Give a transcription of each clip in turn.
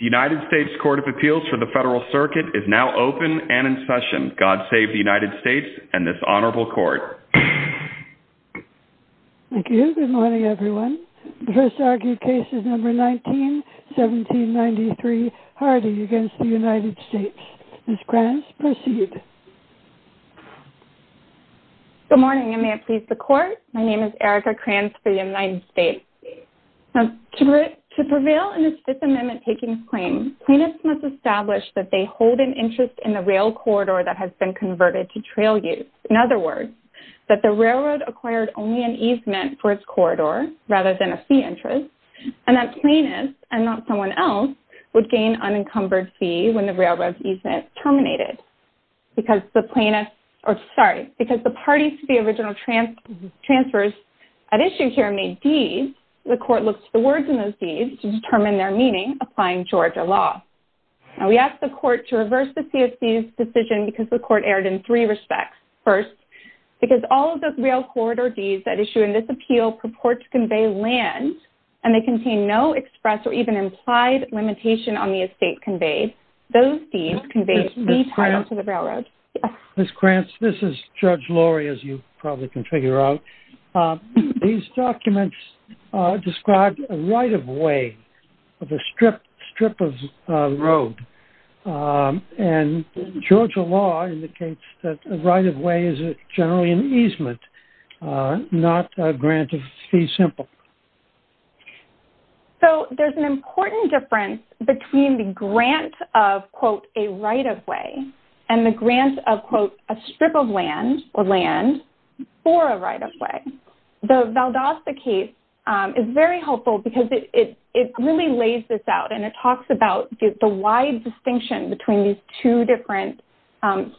United States Court of Appeals for the Federal Circuit is now open and in session. God save the United States and this Honorable Court. Thank you. Good morning everyone. The first argued case is number 19, 1793, Hardy against the United States. Ms. Kranz, proceed. Good morning and may it please the Court. My name is To prevail in this Fifth Amendment takings claim, plaintiffs must establish that they hold an interest in the rail corridor that has been converted to trail use. In other words, that the railroad acquired only an easement for its corridor rather than a fee interest, and that plaintiffs and not someone else would gain unencumbered fee when the railroad easement terminated. Because the parties to the original transfers at issue here may be, the Court looks the words in those deeds to determine their meaning, applying Georgia law. Now we ask the Court to reverse the CFC's decision because the Court erred in three respects. First, because all of the rail corridor deeds that issue in this appeal purport to convey land, and they contain no express or even implied limitation on the estate conveyed. Those deeds convey the title to the railroad. Ms. Kranz, this is Judge Lori, as you probably can figure out. These documents describe a right-of-way of a strip of road, and Georgia law indicates that a right-of-way is generally an easement, not a grant of fee simple. So there's an important difference between the grant of, quote, a right-of-way and the grant of, quote, a strip of right-of-way. The Valdosta case is very helpful because it really lays this out and it talks about the wide distinction between these two different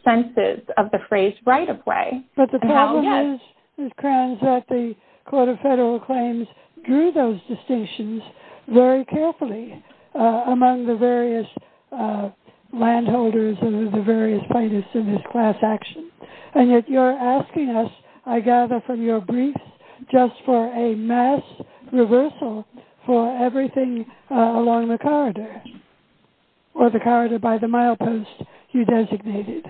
senses of the phrase right-of-way. But the problem is, Ms. Kranz, that the Court of Federal Claims drew those distinctions very carefully among the various landholders and the various plaintiffs in this class action. And yet you're asking us, I gather from your briefs, just for a mass reversal for everything along the corridor or the corridor by the milepost you designated.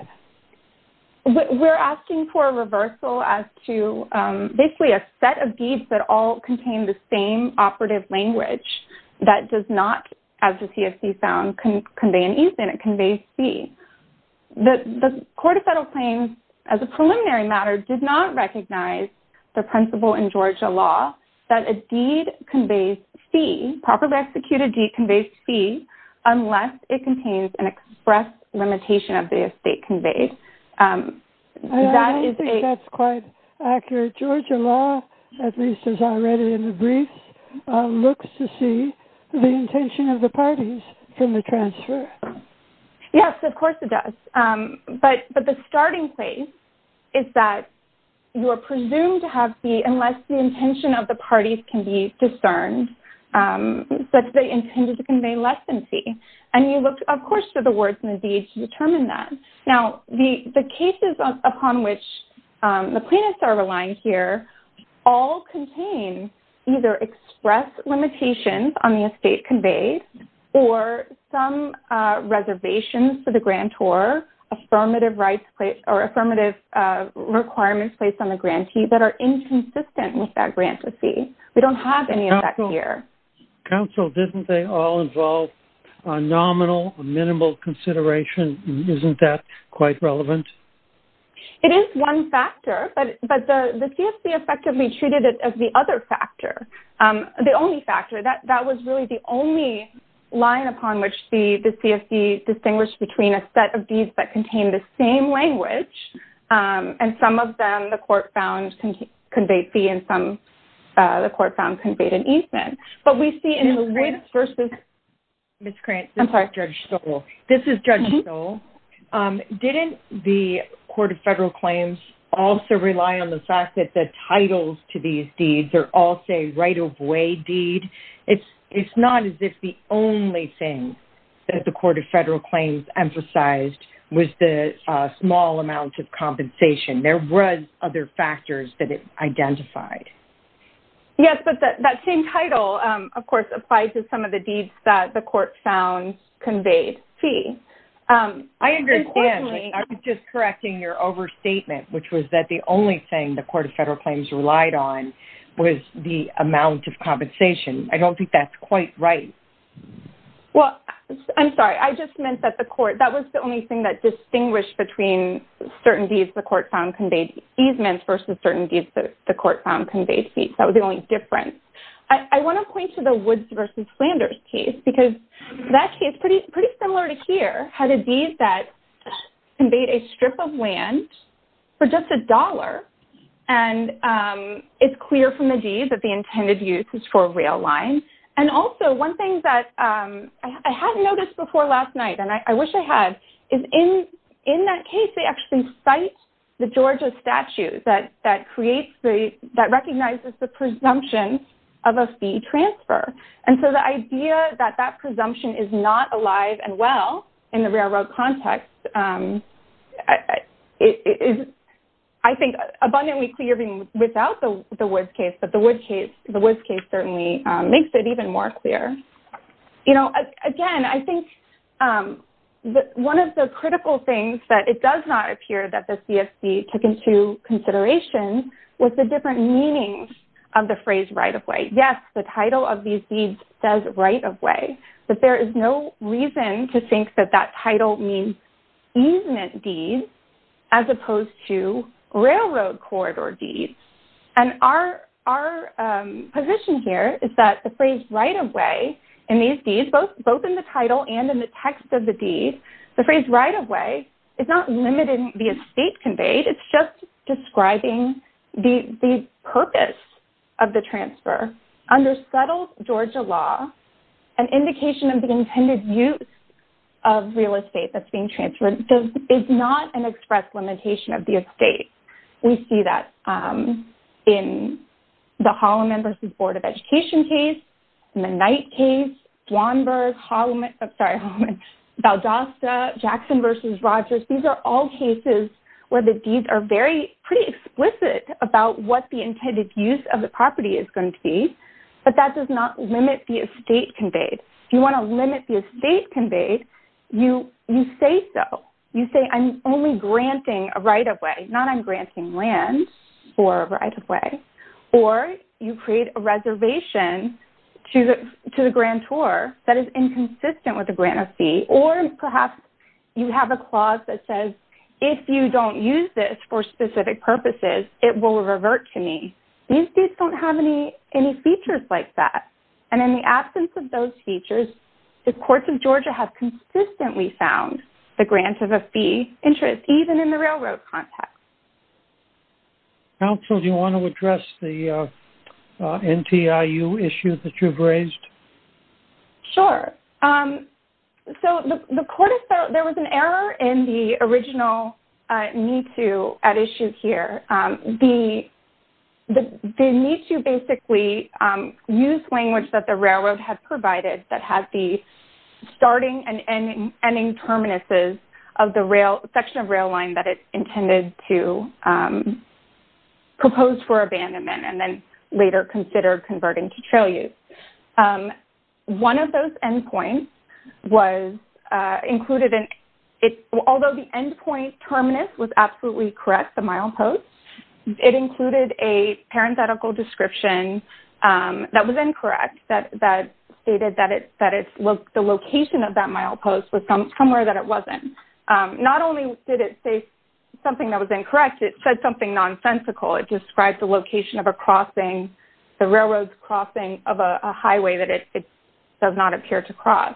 We're asking for a reversal as to basically a set of deeds that all contain the same operative language that does not, as the CFC found, convey an easement. It conveys fee. The Court of Federal Claims, as a preliminary matter, did not recognize the principle in Georgia law that a deed conveys fee, properly executed deed conveys fee, unless it contains an express limitation of the estate conveyed. That is a... I don't think that's quite accurate. Georgia law, at least as I read it in the transcript. Yes, of course it does. But the starting place is that you are presumed to have fee unless the intention of the parties can be discerned that they intended to convey less than fee. And you look, of course, for the words in the deed to determine that. Now, the cases upon which the plaintiffs are relying here all contain either express limitations on the estate conveyed, or some reservations for the grantor, or affirmative requirements placed on the grantee that are inconsistent with that grant fee. We don't have any of that here. Counsel, didn't they all involve a nominal, a minimal consideration? Isn't that quite relevant? It is one factor, but the CFC effectively treated it as the other factor, the only factor. That was really the only line upon which the CFC distinguished between a set of deeds that contained the same language. And some of them the court found conveyed fee and some the court found conveyed an easement. But we see in the words versus... Ms. Krantz, this is Judge Stoll. This is Judge Stoll. Didn't the Court of Federal Claims also right-of-way deed? It's not as if the only thing that the Court of Federal Claims emphasized was the small amounts of compensation. There were other factors that it identified. Yes, but that same title, of course, applied to some of the deeds that the court found conveyed fee. I understand. I'm just correcting your overstatement, which was that the only thing the Court of Federal Claims relied on was the amount of compensation. I don't think that's quite right. Well, I'm sorry. I just meant that the court... That was the only thing that distinguished between certain deeds the court found conveyed easements versus certain deeds the court found conveyed fees. That was the only difference. I want to point to the Woods versus Flanders case because that case, pretty similar to here, had a deed that was a strip of land for just $1. It's clear from the deed that the intended use is for a rail line. Also, one thing that I hadn't noticed before last night, and I wish I had, is in that case, they actually cite the Georgia statue that recognizes the presumption of a fee transfer. The idea that that presumption is not alive and well in the railroad context is, I think, abundantly clear even without the Woods case, but the Woods case certainly makes it even more clear. Again, I think one of the critical things that it does not appear that the CFC took into consideration was the different meanings of the phrase right-of-way. Yes, the deed says right-of-way, but there is no reason to think that that title means easement deeds as opposed to railroad corridor deeds. Our position here is that the phrase right-of-way in these deeds, both in the title and in the text of the deed, the phrase right-of-way is not limiting the estate conveyed. It's just describing the purpose of the transfer under subtle Georgia law, an indication of the intended use of real estate that's being transferred. It's not an express limitation of the estate. We see that in the Holloman versus Board of Education case, in the Knight case, Dwanberg, Holloman, sorry, Valdosta, Jackson versus Rogers. These are all cases where the deeds are very pretty explicit about what the intended use of the property is going to be, but that does not limit the estate conveyed. If you want to limit the estate conveyed, you say so. You say, I'm only granting a right-of-way, not I'm granting land for right-of-way, or you create a reservation to the grantor that is inconsistent with the grantor fee, or perhaps you have a clause that says, if you don't use this for specific purposes, it will revert to me. These deeds don't have any features like that, and in the absence of those features, the Courts of Georgia have consistently found the grant of a fee interest, even in the railroad context. Counsel, do you want to address the NTIU issue that you've raised? Sure. So, there was an error in the original NTIU at issue here. The NTIU basically used language that the railroad had provided that had the starting and ending terminuses of the section of rail line that it intended to propose for abandonment, and then later considered converting to trail use. One of those endpoints was included in it. Although the endpoint terminus was absolutely correct, the milepost, it included a parenthetical description that was incorrect, that stated that the location of that milepost was somewhere that it wasn't. Not only did it say something that was incorrect, it said something nonsensical. It described the railroad's crossing of a highway that it does not appear to cross.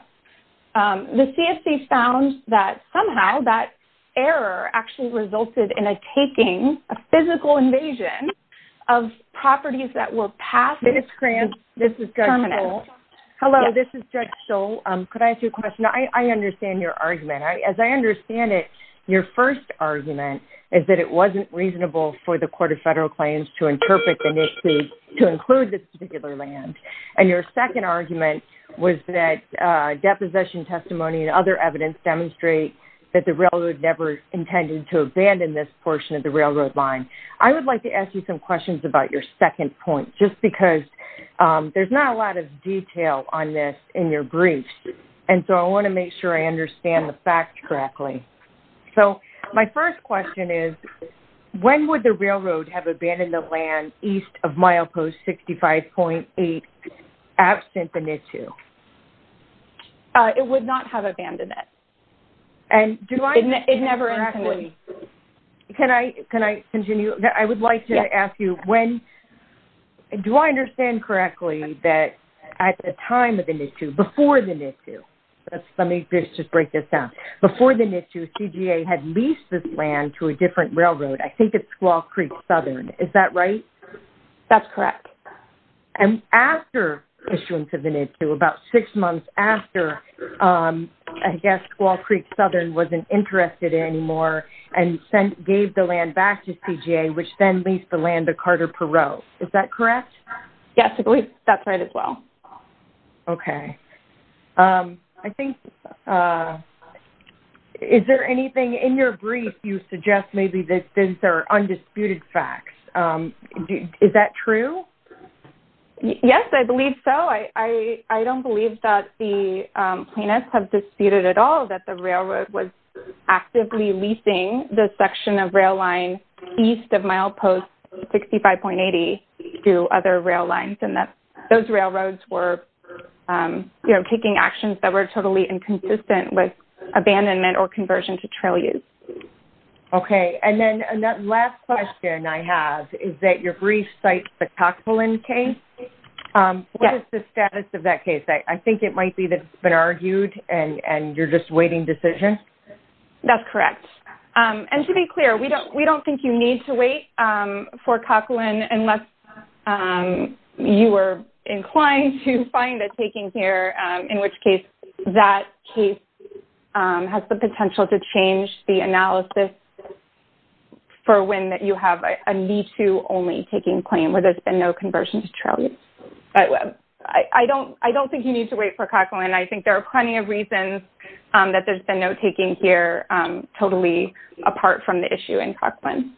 The CSC found that somehow that error actually resulted in a taking, a physical invasion of properties that were past the terminus. Ms. Kranz, this is Judge Stoll. Hello, this is Judge Stoll. Could I ask you a question? I understand your argument. As I understand it, your first argument is that it wasn't reasonable for the Court of Federal Claims to interpret the NISIs to include this particular land, and your second argument was that deposition testimony and other evidence demonstrate that the railroad never intended to abandon this portion of the railroad line. I would like to ask you some questions about your second point, just because there's not a lot of detail on this in your brief, and so I want to make sure I understand the facts correctly. So, my first question is, when would the railroad have abandoned the land east of milepost 65.8, absent the NISU? It would not have abandoned it. And do I... It never intended to. Can I continue? I would like to ask you, do I understand correctly that at the time of the NISU, before the NISU, let me just break this down. Before the NISU, CGA had leased this land to a different railroad. I think it's Squaw Creek Southern. Is that right? That's correct. And after issuing to the NISU, about six months after, I guess Squaw Creek Southern wasn't interested anymore and gave the land back to CGA, which then leased the land to Carter Perot. Is that correct? Yes, I believe that's right as well. Okay. I think, is there anything in your brief you suggest maybe that these are undisputed facts? Is that true? Yes, I believe so. I don't believe that the plaintiffs have disputed at all that the railroad was actively leasing the section of rail line east of milepost 65.8 to other rail lines, and that those railroads were, you know, taking actions that were totally inconsistent with abandonment or conversion to trail use. Okay. And then the last question I have is that your brief cites the Cochlin case. What is the status of that case? I think it might be that it's been argued and you're just waiting decision? That's correct. And to be clear, we don't think you need to wait for Cochlin unless you were inclined to find a taking here, in which case that case has the potential to change the analysis for when you have a need to only taking claim where there's been no conversion to trail use. I don't think you need to wait for Cochlin. I think there are plenty of reasons that there's been no taking here totally apart from the issue in Cochlin.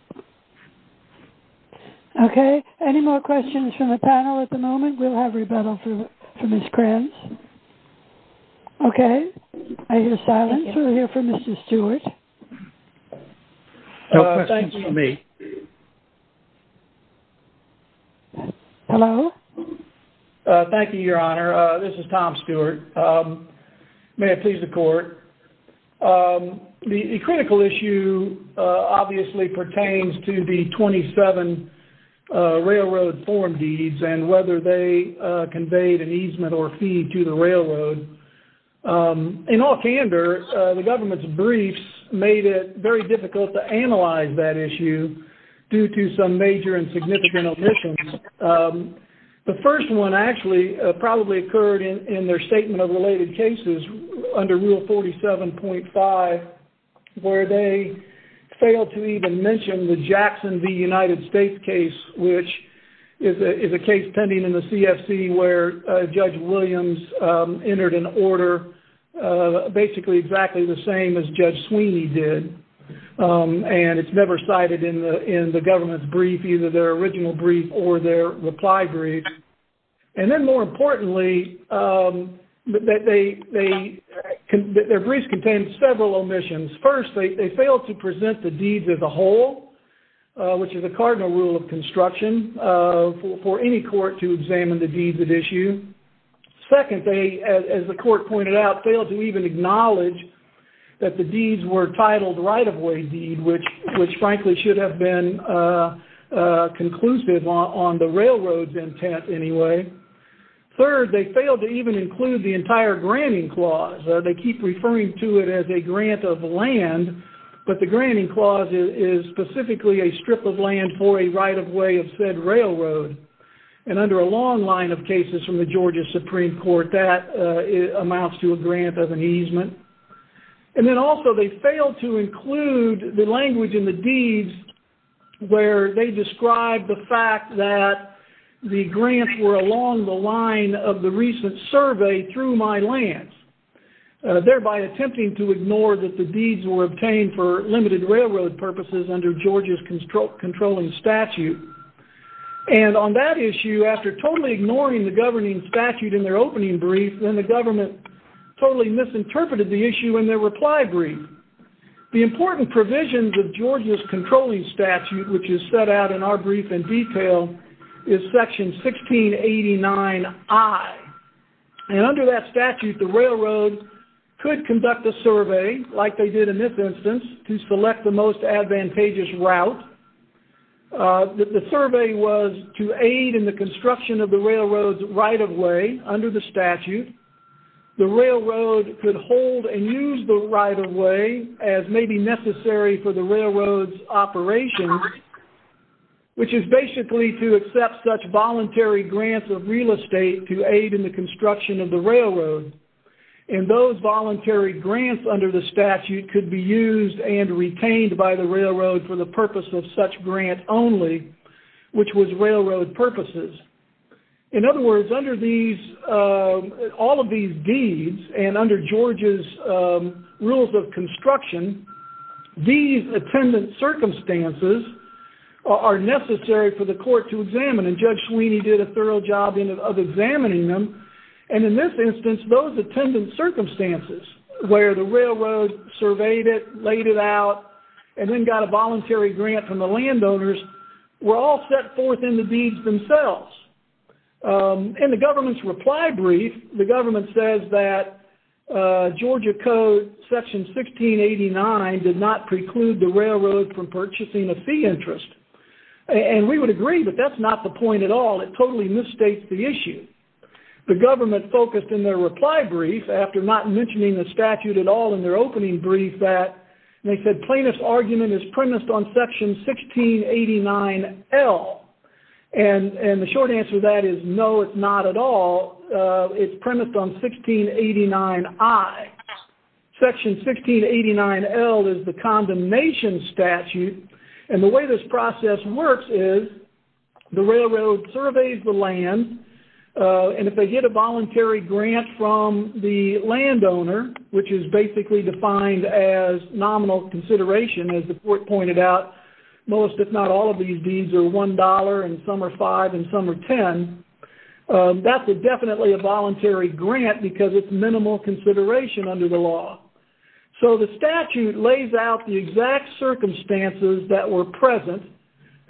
Okay. Any more questions from the panel at the moment? We'll have rebuttal for Ms. Kranz. Okay. I hear silence. We'll hear from Mr. Stewart. No questions for me. Hello. Thank you, Your Honor. This is Tom Stewart. May it please the court. The critical issue obviously pertains to the 27 railroad form deeds and whether they conveyed an easement or fee to the railroad. In all candor, the government's briefs made it very difficult to analyze that issue due to some major and significant omissions. The first one actually probably occurred in their statement of related cases under Rule 47.5 where they failed to even mention the Jackson v. United States case, which is a case pending in the CFC where Judge Williams entered an order basically exactly the same as Judge Sweeney did. It's never cited in the government's brief, either their original brief or their reply brief. Then more importantly, that their briefs contained several omissions. First, they failed to present the deeds as a whole, which is a cardinal rule of construction for any court to examine the deeds at issue. Second, they, as the court pointed out, failed to even acknowledge that the deeds were titled right-of-way deed, which frankly should have been conclusive on the railroad's intent anyway. Third, they failed to even include the entire granting clause. They keep referring to it as a grant of land, but the granting clause is specifically a strip of land for a right-of-way of said railroad. Under a long line of cases from the Georgia Supreme Court, that amounts to a grant of an easement. Then also, they failed to include the language in the deeds where they described the grants were along the line of the recent survey through my lands, thereby attempting to ignore that the deeds were obtained for limited railroad purposes under Georgia's controlling statute. And on that issue, after totally ignoring the governing statute in their opening brief, then the government totally misinterpreted the issue in their reply brief. The important provisions of Georgia's controlling statute, which is set out in our brief in detail, is section 1689I. And under that statute, the railroad could conduct a survey, like they did in this instance, to select the most advantageous route. The survey was to aid in the construction of the railroad's right-of-way under the statute. The railroad could hold and use the right-of-way as may be necessary for the railroad's operation, which is basically to accept such voluntary grants of real estate to aid in the construction of the railroad. And those voluntary grants under the statute could be used and retained by the railroad for the purpose of such grant only, which was railroad purposes. In other words, under these, all of these deeds, and under Georgia's rules of construction, these attendant circumstances are necessary for the court to examine. And Judge Sweeney did a thorough job of examining them. And in this instance, those attendant circumstances, where the railroad surveyed it, laid it out, and then got a voluntary grant from the landowners, were all set forth in the deeds themselves. In the government's reply brief, the government says that Georgia code section 1689 did not preclude the railroad from purchasing a fee interest. And we would agree that that's not the point at all. It totally misstates the issue. The government focused in their reply brief, after not mentioning the statute at all in their opening brief, that they said plaintiff's argument is premised on section 1689L. And the short answer to that is, no, it's not at all. It's premised on 1689I. Section 1689L is the condemnation statute. And the way this process works is, the railroad surveys the land, and if they get a voluntary grant from the landowner, which is basically defined as nominal consideration, as the court pointed out, most, if not all, of these deeds are $1, and some are $5, and some are $10. That's definitely a voluntary grant, because it's minimal consideration under the law. So the statute lays out the exact circumstances that were present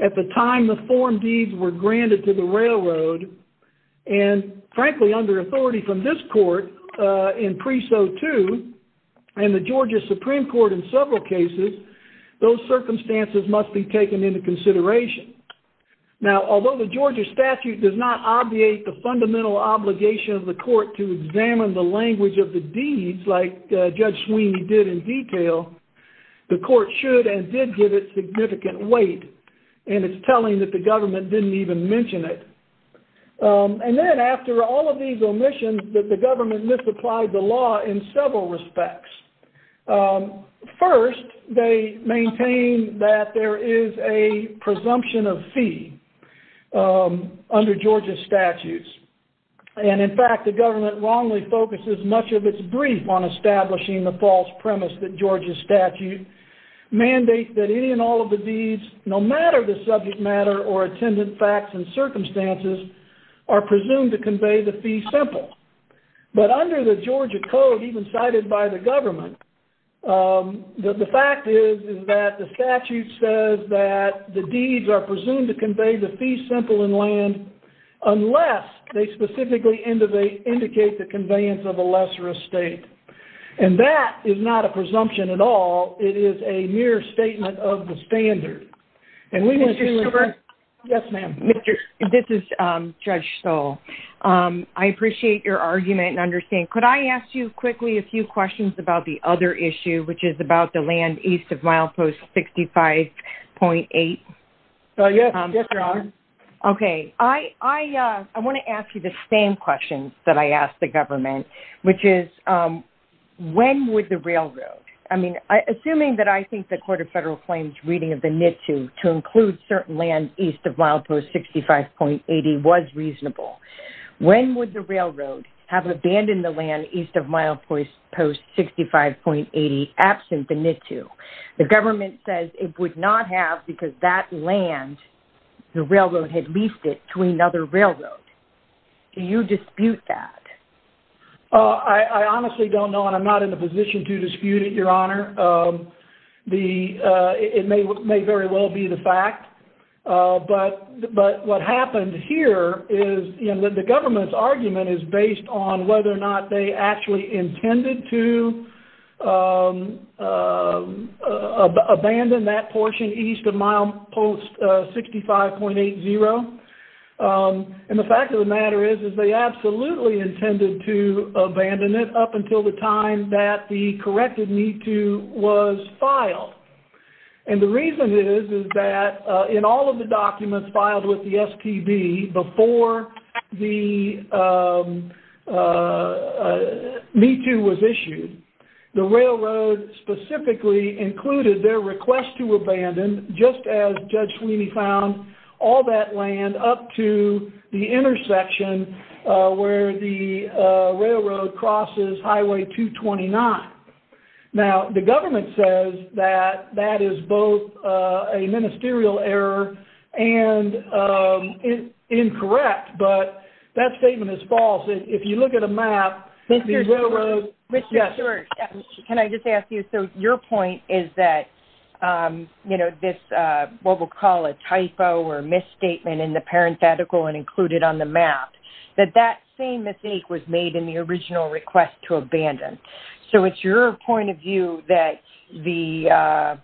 at the time the form deeds were granted to the railroad. And frankly, under authority from this court in Preso 2, and the Georgia Supreme Court in several cases, those circumstances must be taken into consideration. Now, although the Georgia statute does not obviate the fundamental obligation of the court to examine the language of the deeds, like Judge Sweeney did in detail, the court should and did give it significant weight. And it's telling that the government didn't even mention it. And then, after all of these omissions, that the government misapplied the law in several respects. First, they maintain that there is a presumption of fee under Georgia's statutes. And in fact, the government wrongly focuses much of its brief on establishing the false premise that Georgia's statute mandates that any and all of the deeds, no matter the subject matter or attendant facts and circumstances, are presumed to convey the fee simple. But under the Georgia code, even cited by the government, the fact is that the statute says that the deeds are presumed to convey the fee simple in land unless they specifically indicate the conveyance of a lesser estate. And that is not a presumption at all. It is a mere statement of the standard. And we will do it. Yes, ma'am. This is Judge Stoll. I appreciate your argument and understand. Could I ask you quickly a few questions about the other issue, which is about the land east of milepost 65.8? So yes, yes, you're on. Okay, I want to ask you the same questions that I asked the government, which is, when would the railroad, I mean, assuming that I think the Court of Federal Claims reading of the statute to include certain land east of milepost 65.8 was reasonable, when would the railroad have abandoned the land east of milepost 65.8 absent the NITU? The government says it would not have because that land, the railroad had leased it to another railroad. Do you dispute that? I honestly don't know, and I'm not in a position to dispute it, Your Honor. The, it may very well be the fact, but what happened here is, you know, the government's argument is based on whether or not they actually intended to abandon that portion east of milepost 65.80. And the fact of the matter is, is they absolutely intended to abandon it up until the time that the corrected NITU was filed. And the reason is, is that in all of the documents filed with the SPB before the NITU was issued, the railroad specifically included their request to abandon, just as Judge Sweeney found all that land up to the intersection where the railroad crosses Highway 229. Now, the government says that, that is both a ministerial error and incorrect, but that statement is false. If you look at a map, Can I just ask you, so your point is that, you know, this, what we'll call a typo or on the map, that that same mistake was made in the original request to abandon. So it's your point of view that the,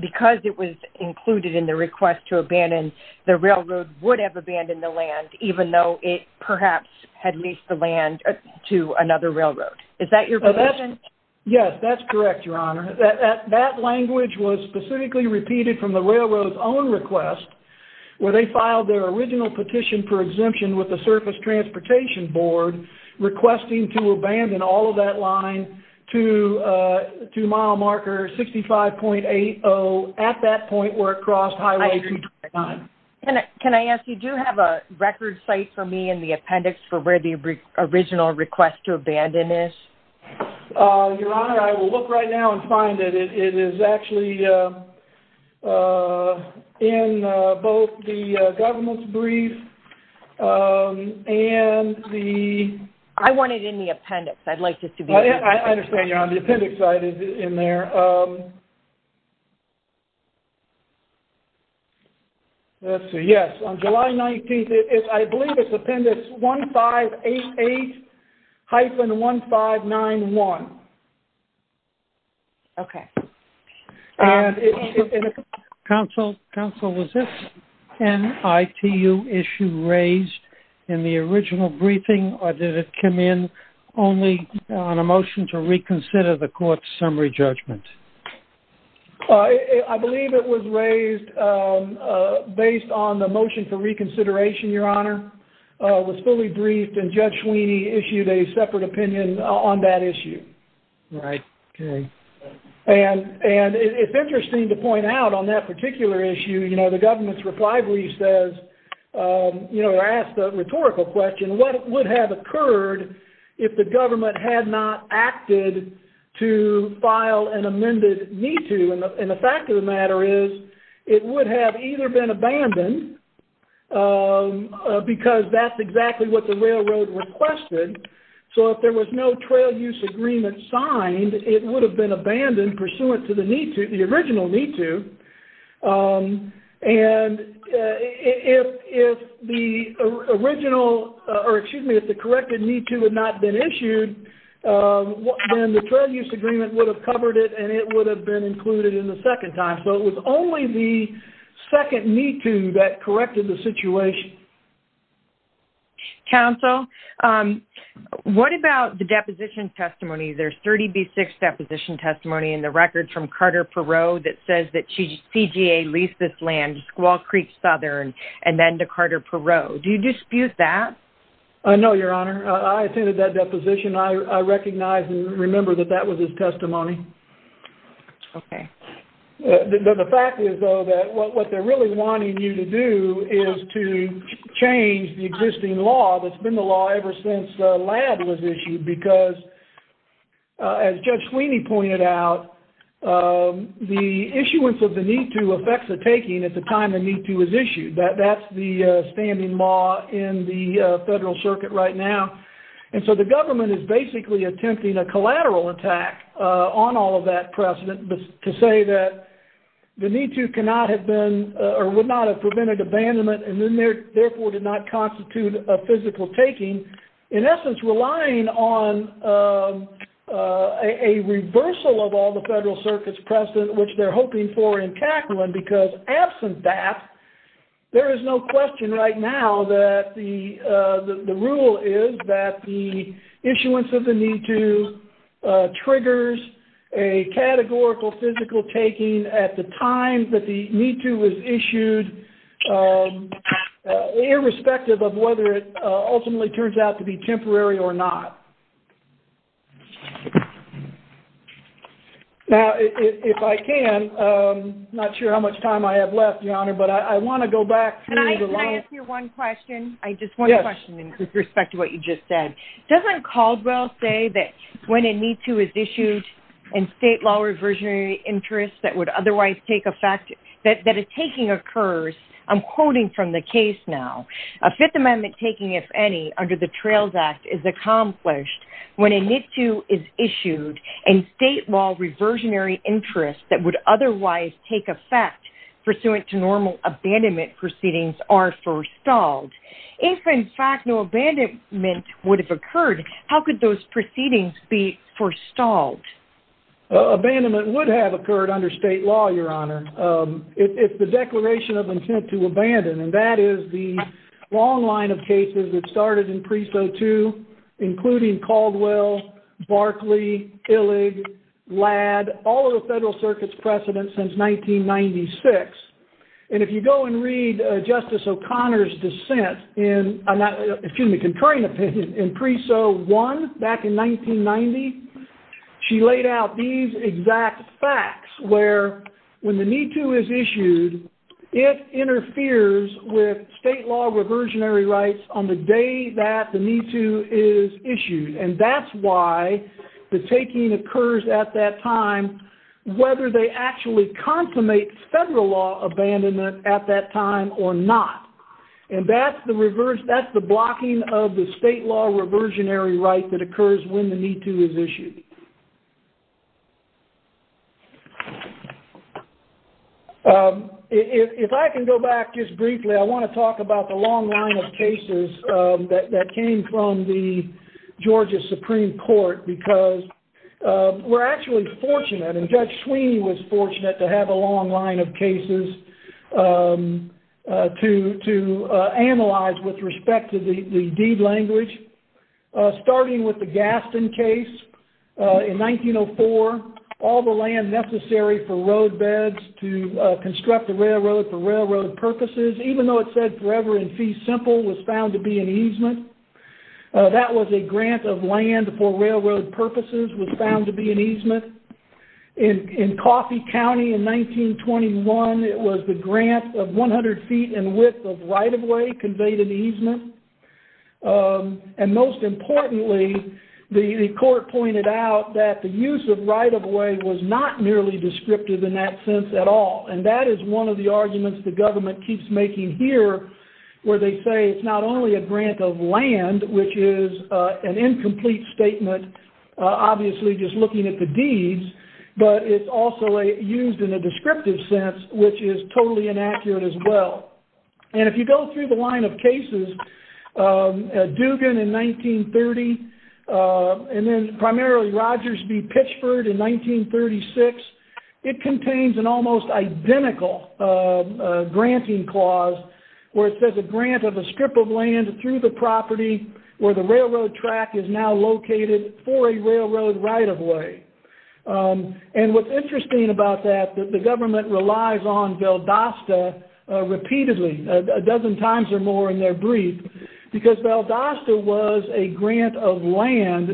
because it was included in the request to abandon, the railroad would have abandoned the land, even though it perhaps had leased the land to another railroad. Is that your position? Yes, that's correct, Your Honor. That language was specifically repeated from the railroad's own request, where they filed their original petition for exemption with the Surface Transportation Board, requesting to abandon all of that line to mile marker 65.80 at that point where it crossed Highway 229. Can I ask, you do have a record site for me in the appendix for where the original request to abandon is? Your Honor, I will look right now and find it. It is actually in both the government's brief and the... I want it in the appendix. I'd like this to be... I understand, Your Honor. The appendix is in there. Let's see. Yes, on July 19th, I believe it's appendix 1588-1591. Okay. Counsel, was this NITU issue raised in the original briefing or did it come in only on a motion to reconsider the court's summary judgment? I believe it was raised based on the motion for reconsideration, Your Honor. It was fully reconsidered. Right. Okay. And it's interesting to point out on that particular issue, you know, the government's reply brief says, you know, asked a rhetorical question, what would have occurred if the government had not acted to file an amended NITU? And the fact of the matter is, it would have either been abandoned because that's exactly what the government signed. It would have been abandoned pursuant to the NITU, the original NITU. And if the original, or excuse me, if the corrected NITU had not been issued, then the trade use agreement would have covered it and it would have been included in the second time. So it was only the second NITU that corrected the situation. Okay. Counsel, what about the deposition testimony? There's 30B6 deposition testimony in the record from Carter Perot that says that CGA leased this land to Squaw Creek Southern and then to Carter Perot. Do you dispute that? No, Your Honor. I attended that deposition. I recognize and remember that that was his testimony. Okay. The fact is, though, that what they're really wanting you to do is to change the existing law that's been the law ever since LADD was issued because, as Judge Sweeney pointed out, the issuance of the NITU affects the taking at the time the NITU was issued. That's the standing law in the federal circuit right now. And so the government is basically attempting a collateral attack on all of that precedent to say that the NITU cannot have been or would not have prevented abandonment and therefore did not constitute a physical taking, in essence relying on a reversal of all the federal circuit's precedent, which they're hoping for in Kaplan, because absent that, there is no question right now that the rule is that the issuance of the NITU triggers a categorical physical taking at the time that the NITU was issued, irrespective of whether it ultimately turns out to be temporary or not. Now, if I can, I'm not sure how much time I have left, Your Honor, but I want to go back. Can I ask you one question? I just want a question in respect to what you just said. Doesn't Caldwell say that when a NITU is issued and state law reversionary interest that would otherwise take effect, that a taking occurs? I'm quoting from the case now. A Fifth Amendment taking, if any, under the Trails Act is accomplished when a NITU is issued and state law reversionary interest that would otherwise take effect pursuant to normal abandonment are forestalled. If, in fact, no abandonment would have occurred, how could those proceedings be forestalled? Abandonment would have occurred under state law, Your Honor, if the declaration of intent to abandon, and that is the long line of cases that started in Preso 2, including Caldwell, Barkley, Illig, Ladd, all of the federal circuit's precedent since 1996. And if you go and read Justice O'Connor's dissent in, excuse me, concurring opinion in Preso 1, back in 1990, she laid out these exact facts where when the NITU is issued, it interferes with state law reversionary rights on the day that the NITU is issued, and that's why the taking occurs at that time, whether they actually consummate federal law abandonment at that time or not. And that's the blocking of the state law reversionary right that occurs when the NITU is issued. If I can go back just briefly, I want to talk about the long line of cases that came from the Georgia Supreme Court because we're actually fortunate, and Judge Sweeney was fortunate to have a long line of cases to analyze with respect to the deed language, starting with the Gaston case in 1904, all the land necessary for roadbeds to construct the easement. That was a grant of land for railroad purposes was found to be an easement. In Coffey County in 1921, it was the grant of 100 feet and width of right-of-way conveyed an easement. And most importantly, the court pointed out that the use of right-of-way was not nearly descriptive in that sense at all, and that is one of the arguments the government keeps making here where they say it's not only a grant of land, which is an incomplete statement, obviously just looking at the deeds, but it's also used in a descriptive sense, which is totally inaccurate as well. And if you go through the line of cases, Dugan in 1930, and then primarily Rogers v. Pitchford in 1936, it contains an almost identical granting clause where it says a grant of a strip of land through the property where the railroad track is now located for a railroad right-of-way. And what's interesting about that, the government relies on Valdosta repeatedly, a dozen times or more in their brief, because Valdosta was a grant of land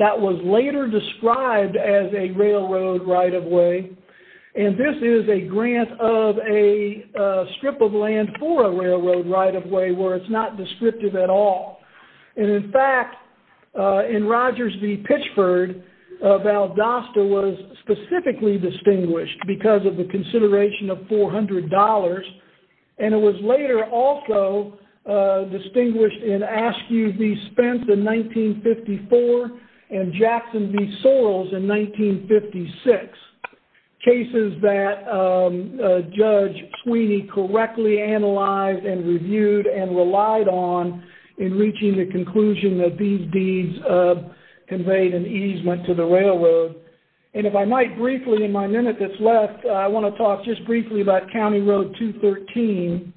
that was later described as a railroad right-of-way, and this is a grant of a strip of land for a railroad right-of-way where it's not descriptive at all. And in fact, in Rogers v. Pitchford, Valdosta was specifically distinguished because of the consideration of $400, and it was later also distinguished in Askew v. Spence in 1954, and Jackson v. Sorrells in 1956, cases that Judge Sweeney correctly analyzed and reviewed and relied on in reaching the conclusion that these deeds conveyed an easement to the railroad. And if I might briefly in my note 213,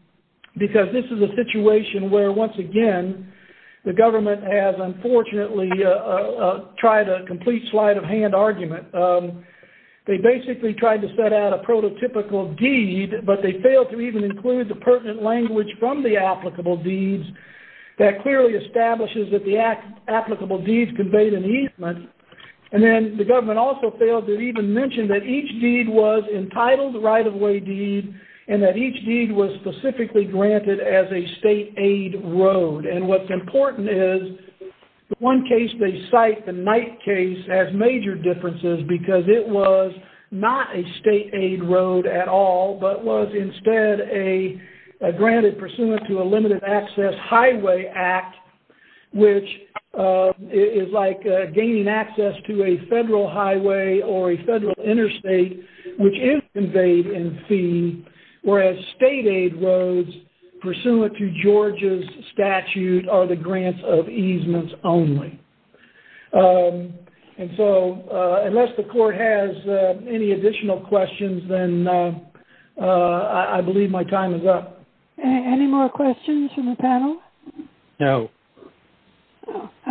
because this is a situation where once again, the government has unfortunately tried a complete sleight of hand argument. They basically tried to set out a prototypical deed, but they failed to even include the pertinent language from the applicable deeds that clearly establishes that the applicable deeds conveyed an easement. And then the government also failed to even mention that each deed was entitled right-of-way deed, and that each deed was specifically granted as a state-aid road. And what's important is the one case they cite, the Knight case, has major differences because it was not a state-aid road at all, but was instead granted pursuant to a limited access highway act, which is like gaining access to a federal highway or a federal interstate, which is conveyed in fee, whereas state-aid roads pursuant to Georgia's statute are the grants of easements only. And so unless the court has any additional questions, then I believe my time is up. Any more questions from the panel? No.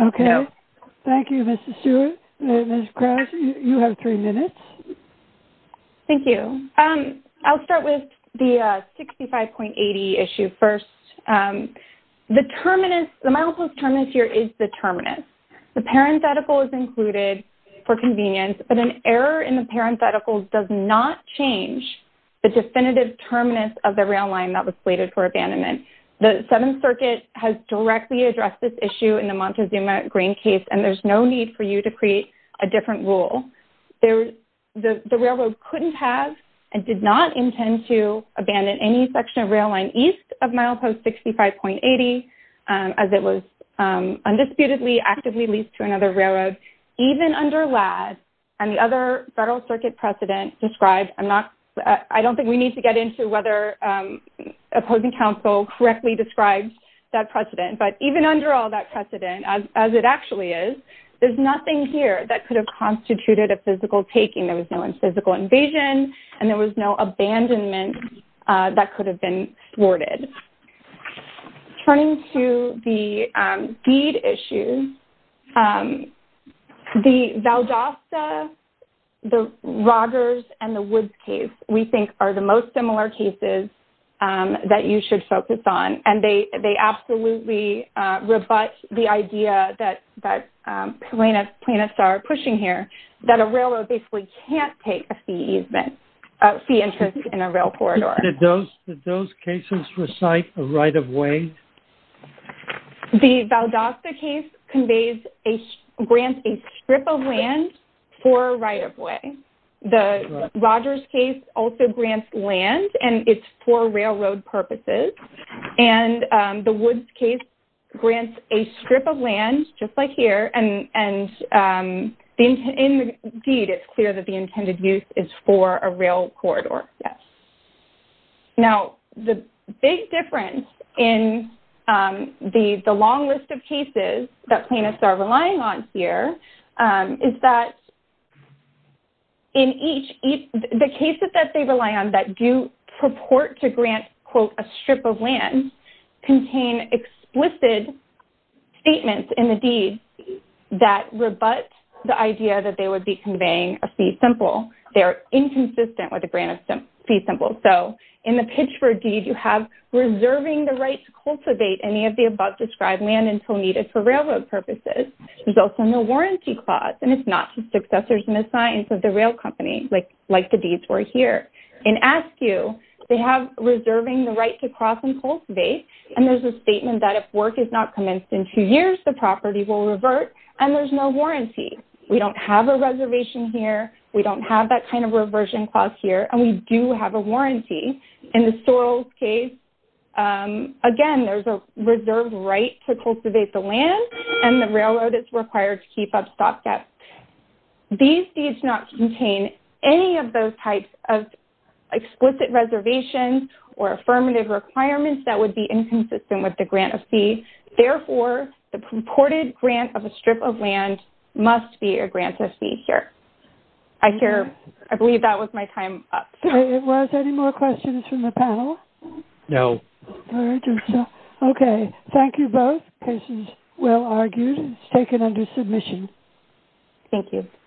Okay. Thank you, Ms. Stewart. Ms. Krause, you have three minutes. Thank you. I'll start with the 65.80 issue first. The terminus, the milepost terminus here is the terminus. The parenthetical is included for convenience, but an error in the parenthetical does not change the definitive terminus of the rail line that was plated for abandonment. The Seventh Circuit has directly addressed this issue in the Montezuma-Green case, and there's no need for you to create a different rule. The railroad couldn't have and did not intend to abandon any section of rail line east of milepost 65.80, as it was undisputedly actively leased to another railroad, even under Ladd. And the other Federal Circuit precedent described, I'm not, I don't think we need to get into whether opposing counsel correctly described that precedent, but even under all that precedent, as it actually is, there's nothing here that could have constituted a physical taking. There was no physical invasion, and there was no abandonment that could have been thwarted. Turning to the deed issues, the Valdosta, the Rogers, and the Woods case, we think are the most similar cases that you should focus on. And they absolutely rebut the idea that plaintiffs are pushing here, that a railroad basically can't take a fee easement, a fee interest in a rail corridor. Did those cases recite a right-of-way? The Valdosta case conveys, grants a strip of land for a right-of-way. The Rogers case also grants land, and it's for railroad purposes. And the Woods case grants a strip of land, just like here, and indeed, it's clear that the intended use is for a rail corridor, yes. Now, the big difference in the long list of cases that plaintiffs are relying on here is that in each, the cases that they rely on that do purport to grant, quote, a strip of land, contain explicit statements in the deed that rebut the idea that they would be conveying a fee simple. They're inconsistent with the grant of fee simple. So, in the pitch for a deed, you have reserving the right to cultivate any of the above described land until needed for railroad purposes. There's also no warranty clause, and it's not to successors and assigns of the rail company, like the deeds were here. In ASKU, they have reserving the right to cross and cultivate, and there's a statement that if work is not commenced in two years, the property will revert, and there's no warranty. We don't have a reservation here. We don't have that kind of reversion clause here, and we do have a warranty. In the Sorrell's case, again, there's a reserved right to cultivate the land, and the railroad is required to keep up stop gaps. These deeds not contain any of those types of explicit reservations or affirmative requirements that would be inconsistent with the grant of fee. Therefore, the purported grant of a strip of land must be a grant of fee here. I hear, I believe that was my time up. It was. Any more questions from the panel? No. Okay. Thank you both. This is well argued. It's taken under submission. Thank you.